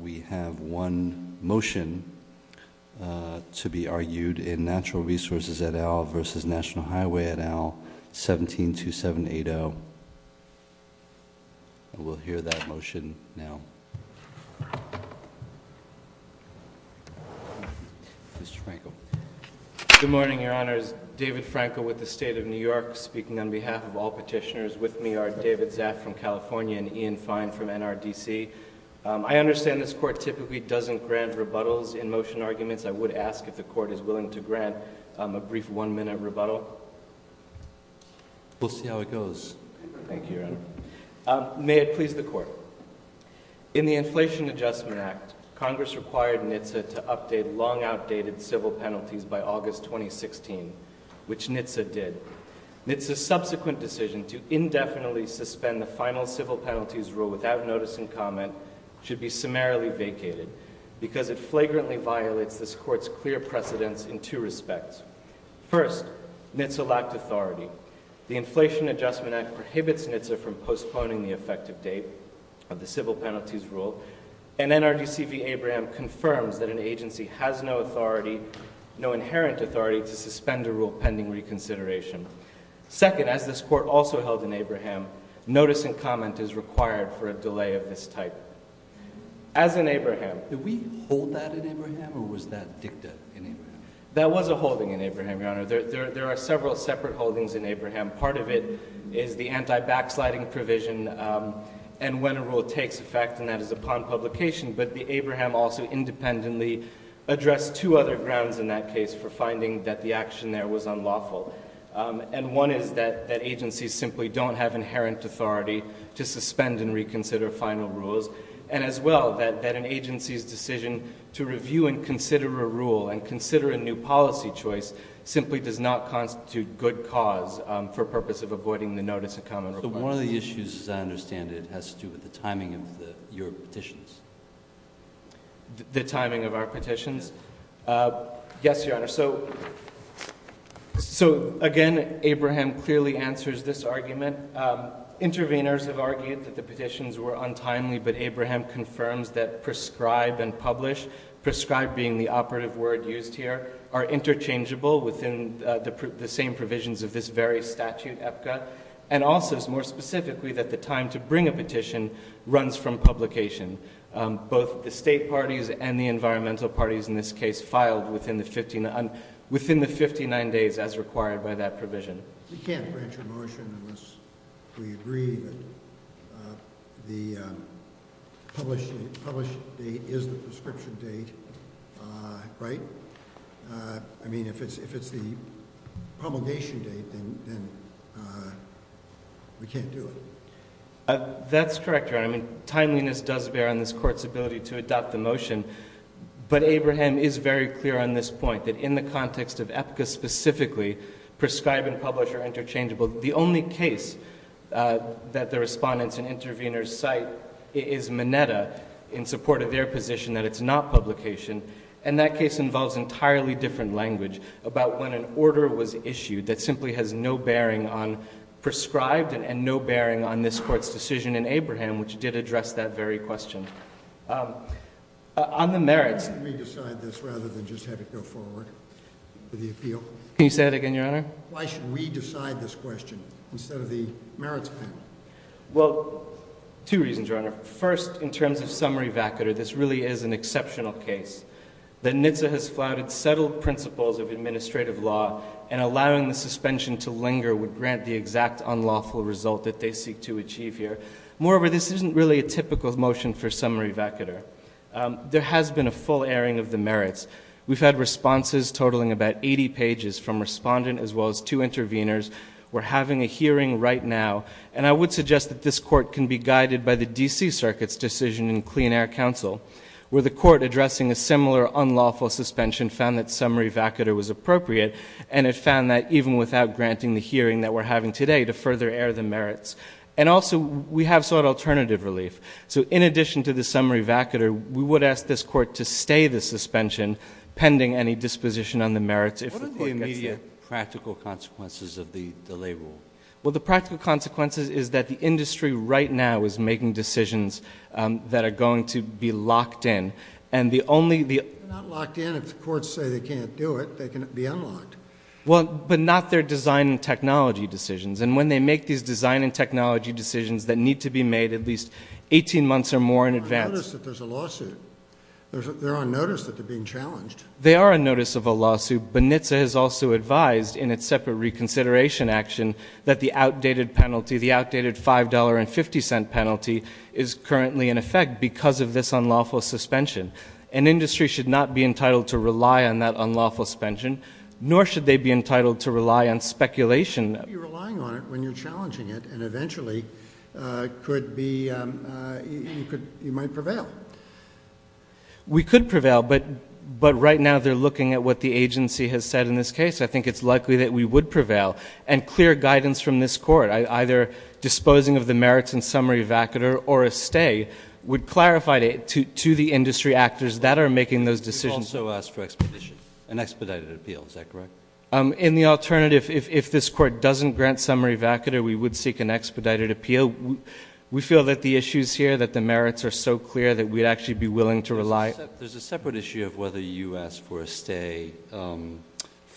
We have one motion to be argued in Natural Resources et al. versus National Highway et al. 172780. We'll hear that motion now. Good morning, Your Honors. David Franco with the State of New York speaking on behalf of all petitioners. With me are David Zaff from California and Ian Fine from NRDC. I understand this Court typically doesn't grant rebuttals in motion arguments. I would ask if the Court is willing to grant a brief one-minute rebuttal. We'll see how it goes. Thank you, Your Honor. May it please the Court. In the Inflation Adjustment Act, Congress required NHTSA to update long-outdated civil penalties by August 2016, which NHTSA did. NHTSA's subsequent decision to indefinitely suspend the final civil penalties rule without notice and comment should be summarily vacated, because it flagrantly violates this Court's clear precedents in two respects. First, NHTSA lacked authority. The Inflation Adjustment Act prohibits NHTSA from postponing the effective date of the civil penalties rule, and NRDC v. Abraham confirms that an agency has no inherent authority to suspend a rule pending reconsideration. Second, as this Court also held in Abraham, notice and comment is required for a delay of this type. As in Abraham— Did we hold that in Abraham, or was that dicta in Abraham? That was a holding in Abraham, Your Honor. There are several separate holdings in Abraham. Part of it is the anti-backsliding provision and when a rule takes effect, and that is upon publication. But Abraham also independently addressed two other grounds in that case for finding that the action there was unlawful. And one is that agencies simply don't have inherent authority to suspend and reconsider final rules, and as well that an agency's decision to review and consider a rule and consider a new policy choice simply does not constitute good cause. For purpose of avoiding the notice and comment— So one of the issues, as I understand it, has to do with the timing of your petitions. The timing of our petitions? Yes, Your Honor. So again, Abraham clearly answers this argument. Interveners have argued that the petitions were untimely, but Abraham confirms that prescribe and publish, prescribe being the operative word used here, are interchangeable within the same provisions of this very statute, EPCA, and also, more specifically, that the time to bring a petition runs from publication. Both the state parties and the environmental parties in this case filed within the 59 days as required by that provision. We can't grant your motion unless we agree that the publish date is the prescription date, right? I mean, if it's the promulgation date, then we can't do it. That's correct, Your Honor. Timeliness does bear on this Court's ability to adopt the motion, but Abraham is very clear on this point that in the context of EPCA specifically, prescribe and publish are interchangeable. The only case that the respondents and interveners cite is Minetta in support of their position that it's not publication, and that case involves entirely different language about when an order was issued that simply has no bearing on prescribed and no bearing on this Court's decision in Abraham, which did address that very question. On the merits— Let me decide this rather than just have it go forward for the appeal. Can you say that again, Your Honor? Why should we decide this question instead of the merits panel? Well, two reasons, Your Honor. First, in terms of summary vacatur, this really is an exceptional case. The NHTSA has flouted settled principles of administrative law, and allowing the suspension to linger would grant the exact unlawful result that they seek to achieve here. Moreover, this isn't really a typical motion for summary vacatur. There has been a full airing of the merits. We've had responses totaling about 80 pages from respondents as well as two interveners. We're having a hearing right now, and I would suggest that this Court can be guided by the D.C. Circuit's decision in Clean Air Council, where the Court addressing a similar unlawful suspension found that summary vacatur was appropriate, and it found that even without granting the hearing that we're having today to further air the merits. And also, we have sought alternative relief. So in addition to the summary vacatur, we would ask this Court to stay the suspension pending any disposition on the merits. What are the immediate practical consequences of the delay rule? Well, the practical consequences is that the industry right now is making decisions that are going to be locked in. They're not locked in if the courts say they can't do it. They can be unlocked. Well, but not their design and technology decisions. And when they make these design and technology decisions that need to be made at least 18 months or more in advance. I've noticed that there's a lawsuit. They're on notice that they're being challenged. They are on notice of a lawsuit. But NHTSA has also advised in its separate reconsideration action that the outdated penalty, the outdated $5.50 penalty is currently in effect because of this unlawful suspension. An industry should not be entitled to rely on that unlawful suspension, nor should they be entitled to rely on speculation. You're relying on it when you're challenging it, and eventually you might prevail. We could prevail, but right now they're looking at what the agency has said in this case. I think it's likely that we would prevail. And clear guidance from this court, either disposing of the merits in summary evacuator or a stay, would clarify to the industry actors that are making those decisions. You also asked for an expedited appeal. Is that correct? In the alternative, if this court doesn't grant summary evacuator, we would seek an expedited appeal. We feel that the issues here, that the merits are so clear that we'd actually be willing to rely. There's a separate issue of whether you asked for a stay from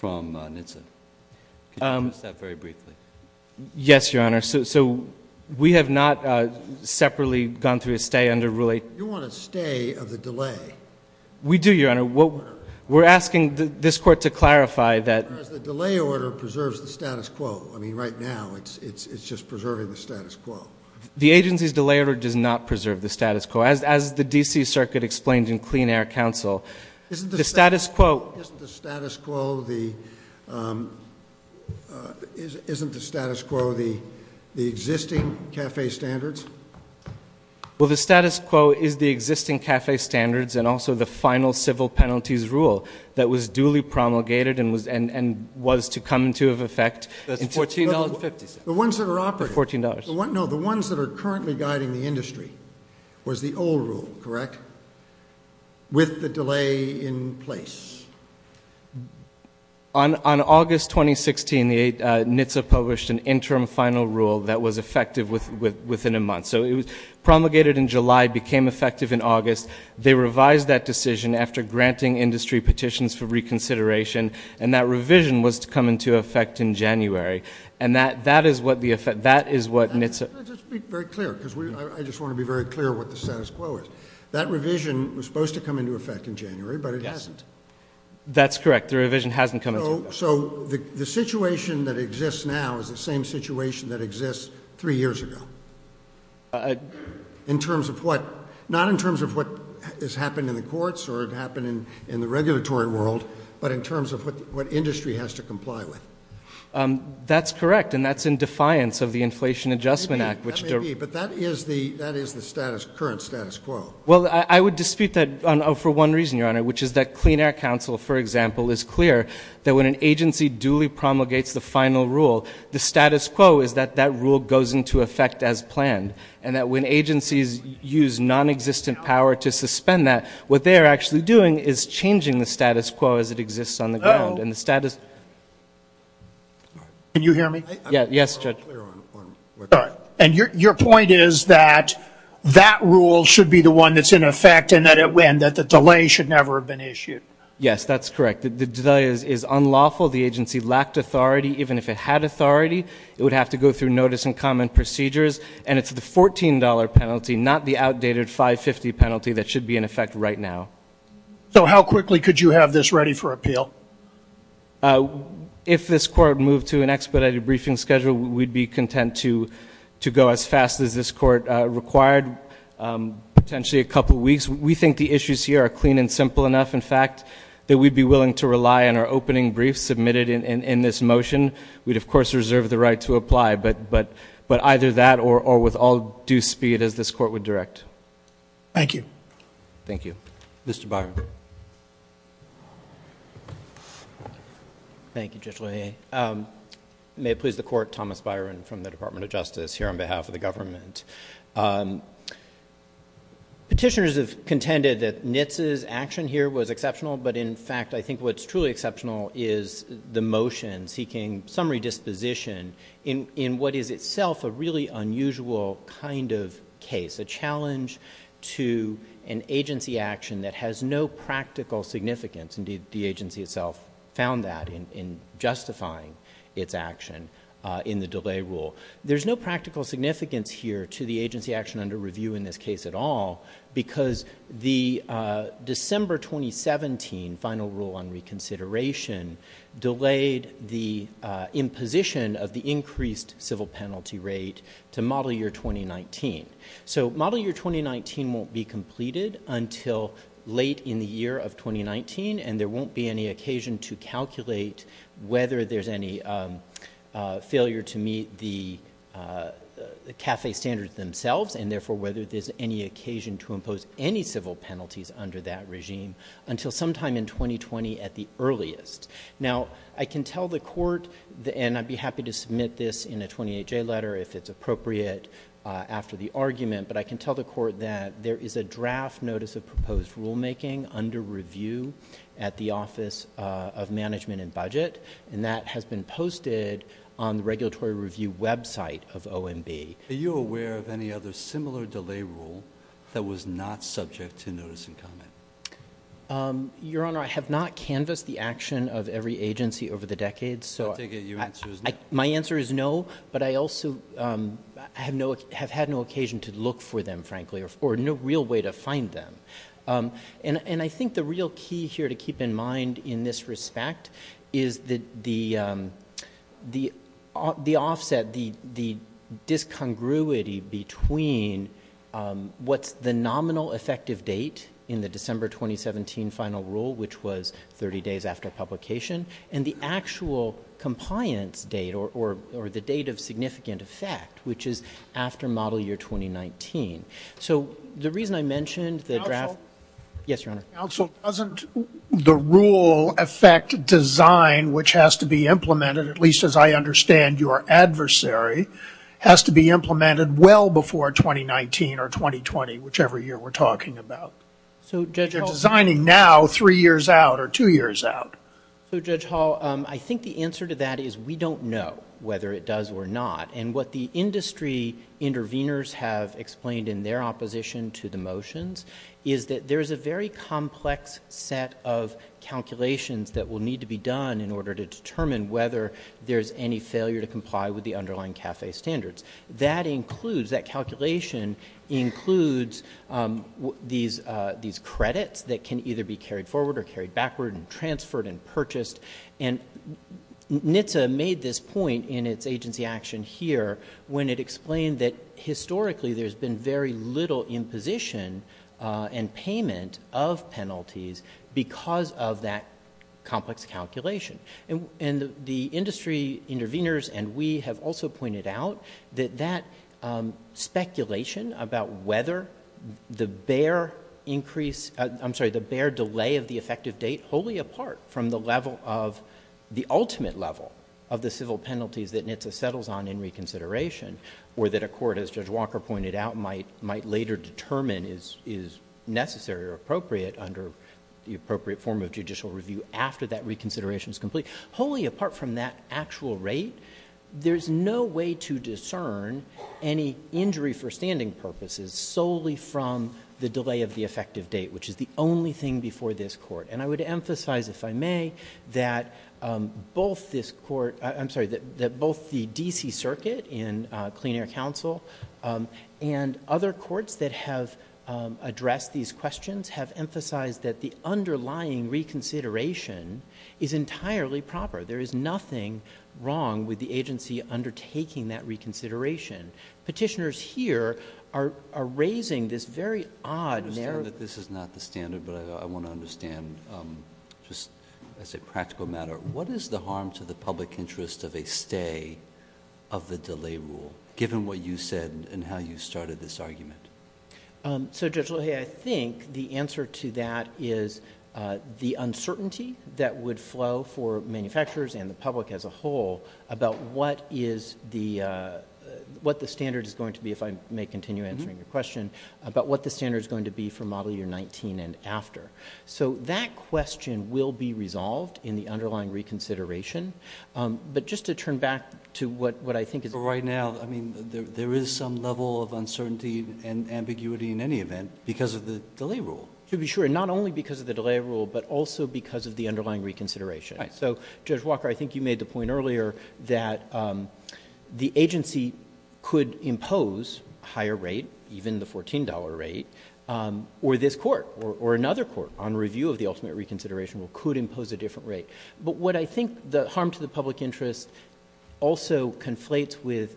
NHTSA. Could you address that very briefly? Yes, Your Honor. So we have not separately gone through a stay under Rule 8. You want a stay of the delay. We do, Your Honor. We're asking this court to clarify that. The delay order preserves the status quo. I mean, right now it's just preserving the status quo. The agency's delay order does not preserve the status quo. As the D.C. Circuit explained in Clean Air Counsel, the status quo isn't the status quo the existing CAFE standards? Well, the status quo is the existing CAFE standards and also the final civil penalties rule that was duly promulgated and was to come into effect. That's $14.50. The ones that are operating. It's $14. No, the ones that are currently guiding the industry was the old rule, correct? With the delay in place. On August 2016, NHTSA published an interim final rule that was effective within a month. So it was promulgated in July, became effective in August. They revised that decision after granting industry petitions for reconsideration, and that revision was to come into effect in January. And that is what NHTSA. Let's be very clear, because I just want to be very clear what the status quo is. That revision was supposed to come into effect in January, but it hasn't. That's correct. The revision hasn't come into effect. So the situation that exists now is the same situation that exists three years ago? In terms of what? Not in terms of what has happened in the courts or happened in the regulatory world, but in terms of what industry has to comply with. That's correct, and that's in defiance of the Inflation Adjustment Act. That may be, but that is the current status quo. Well, I would dispute that for one reason, Your Honor, which is that Clean Air Council, for example, is clear that when an agency duly promulgates the final rule, the status quo is that that rule goes into effect as planned, and that when agencies use nonexistent power to suspend that, what they are actually doing is changing the status quo as it exists on the ground. No. Can you hear me? Yes, Judge. And your point is that that rule should be the one that's in effect and that the delay should never have been issued? Yes, that's correct. The delay is unlawful. The agency lacked authority. Even if it had authority, it would have to go through notice and comment procedures, and it's the $14 penalty, not the outdated $550 penalty, that should be in effect right now. So how quickly could you have this ready for appeal? If this Court moved to an expedited briefing schedule, we'd be content to go as fast as this Court required, potentially a couple weeks. In fact, that we'd be willing to rely on our opening briefs submitted in this motion. We'd, of course, reserve the right to apply, but either that or with all due speed as this Court would direct. Thank you. Thank you. Mr. Byron. Thank you, Judge LaHaye. May it please the Court, Thomas Byron from the Department of Justice here on behalf of the government. Petitioners have contended that Nitze's action here was exceptional, but in fact I think what's truly exceptional is the motion seeking summary disposition in what is itself a really unusual kind of case, a challenge to an agency action that has no practical significance. Indeed, the agency itself found that in justifying its action in the delay rule. There's no practical significance here to the agency action under review in this case at all because the December 2017 final rule on reconsideration delayed the imposition of the increased civil penalty rate to model year 2019. So model year 2019 won't be completed until late in the year of 2019, and there won't be any occasion to calculate whether there's any failure to meet the CAFE standards themselves and therefore whether there's any occasion to impose any civil penalties under that regime until sometime in 2020 at the earliest. Now, I can tell the Court, and I'd be happy to submit this in a 28-J letter if it's appropriate after the argument, but I can tell the Court that there is a draft notice of proposed rulemaking under review at the Office of Management and Budget, and that has been posted on the regulatory review website of OMB. Are you aware of any other similar delay rule that was not subject to notice and comment? Your Honor, I have not canvassed the action of every agency over the decades. I take it your answer is no. My answer is no, but I also have had no occasion to look for them, frankly, or no real way to find them. And I think the real key here to keep in mind in this respect is the offset, the discongruity between what's the nominal effective date in the December 2017 final rule, which was 30 days after publication, and the actual compliance date or the date of significant effect, which is after model year 2019. So the reason I mentioned the draft – Counsel? Yes, Your Honor. Counsel, doesn't the rule affect design, which has to be implemented, at least as I understand your adversary, has to be implemented well before 2019 or 2020, whichever year we're talking about? So Judge Hall – Three years out or two years out? So, Judge Hall, I think the answer to that is we don't know whether it does or not. And what the industry interveners have explained in their opposition to the motions is that there is a very complex set of calculations that will need to be done in order to determine whether there is any failure to comply with the underlying CAFE standards. That includes – that calculation includes these credits that can either be carried forward or carried backward and transferred and purchased. And NHTSA made this point in its agency action here when it explained that historically there's been very little imposition and payment of penalties because of that complex calculation. And the industry interveners and we have also pointed out that that speculation about whether the bare increase – I'm sorry, the bare delay of the effective date wholly apart from the level of – the ultimate level of the civil penalties that NHTSA settles on in reconsideration or that a court, as Judge Walker pointed out, might later determine is necessary or appropriate under the appropriate form of judicial review after that reconsideration is complete. Wholly apart from that actual rate, there's no way to discern any injury for standing purposes solely from the delay of the effective date, which is the only thing before this court. And I would emphasize, if I may, that both this court – I'm sorry, that both the D.C. Circuit and Clean Air Council and other courts that have addressed these questions have emphasized that the underlying reconsideration is entirely proper. There is nothing wrong with the agency undertaking that reconsideration. Petitioners here are raising this very odd narrative. I understand that this is not the standard, but I want to understand, just as a practical matter, what is the harm to the public interest of a stay of the delay rule, given what you said and how you started this argument? So, Judge Lohe, I think the answer to that is the uncertainty that would flow for manufacturers and the public as a whole about what the standard is going to be, if I may continue answering your question, about what the standard is going to be for Model Year 19 and after. So that question will be resolved in the underlying reconsideration. But just to turn back to what I think is... because of the delay rule. To be sure, not only because of the delay rule, but also because of the underlying reconsideration. So, Judge Walker, I think you made the point earlier that the agency could impose a higher rate, even the $14 rate, or this court or another court on review of the ultimate reconsideration could impose a different rate. But what I think the harm to the public interest also conflates with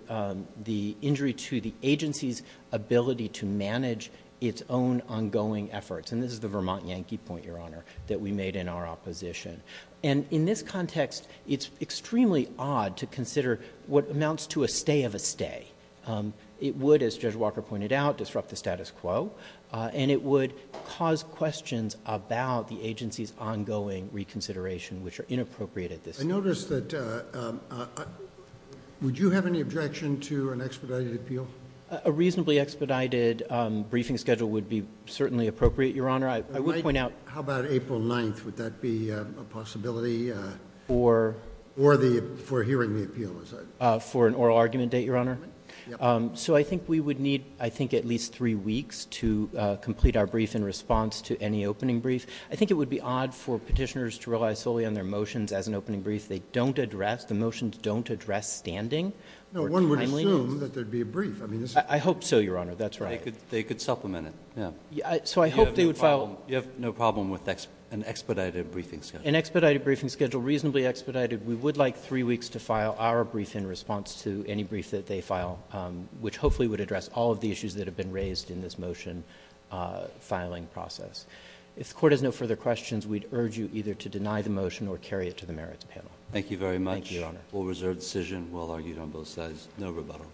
the injury to the agency's ability to manage its own ongoing efforts. And this is the Vermont Yankee point, Your Honor, that we made in our opposition. And in this context, it's extremely odd to consider what amounts to a stay of a stay. It would, as Judge Walker pointed out, disrupt the status quo, and it would cause questions about the agency's ongoing reconsideration, which are inappropriate at this time. I noticed that... would you have any objection to an expedited appeal? A reasonably expedited briefing schedule would be certainly appropriate, Your Honor. I would point out... How about April 9th? Would that be a possibility for hearing the appeal? For an oral argument date, Your Honor? Yeah. So I think we would need, I think, at least three weeks to complete our brief in response to any opening brief. I think it would be odd for petitioners to rely solely on their motions as an opening brief. They don't address, the motions don't address standing. No, one would assume that there would be a brief. I hope so, Your Honor. That's right. They could supplement it. So I hope they would file... You have no problem with an expedited briefing schedule? An expedited briefing schedule, reasonably expedited. We would like three weeks to file our brief in response to any brief that they file, which hopefully would address all of the issues that have been raised in this motion filing process. If the Court has no further questions, we'd urge you either to deny the motion or carry it to the merits panel. Thank you very much. Thank you, Your Honor. A full reserve decision, well argued on both sides, no rebuttal.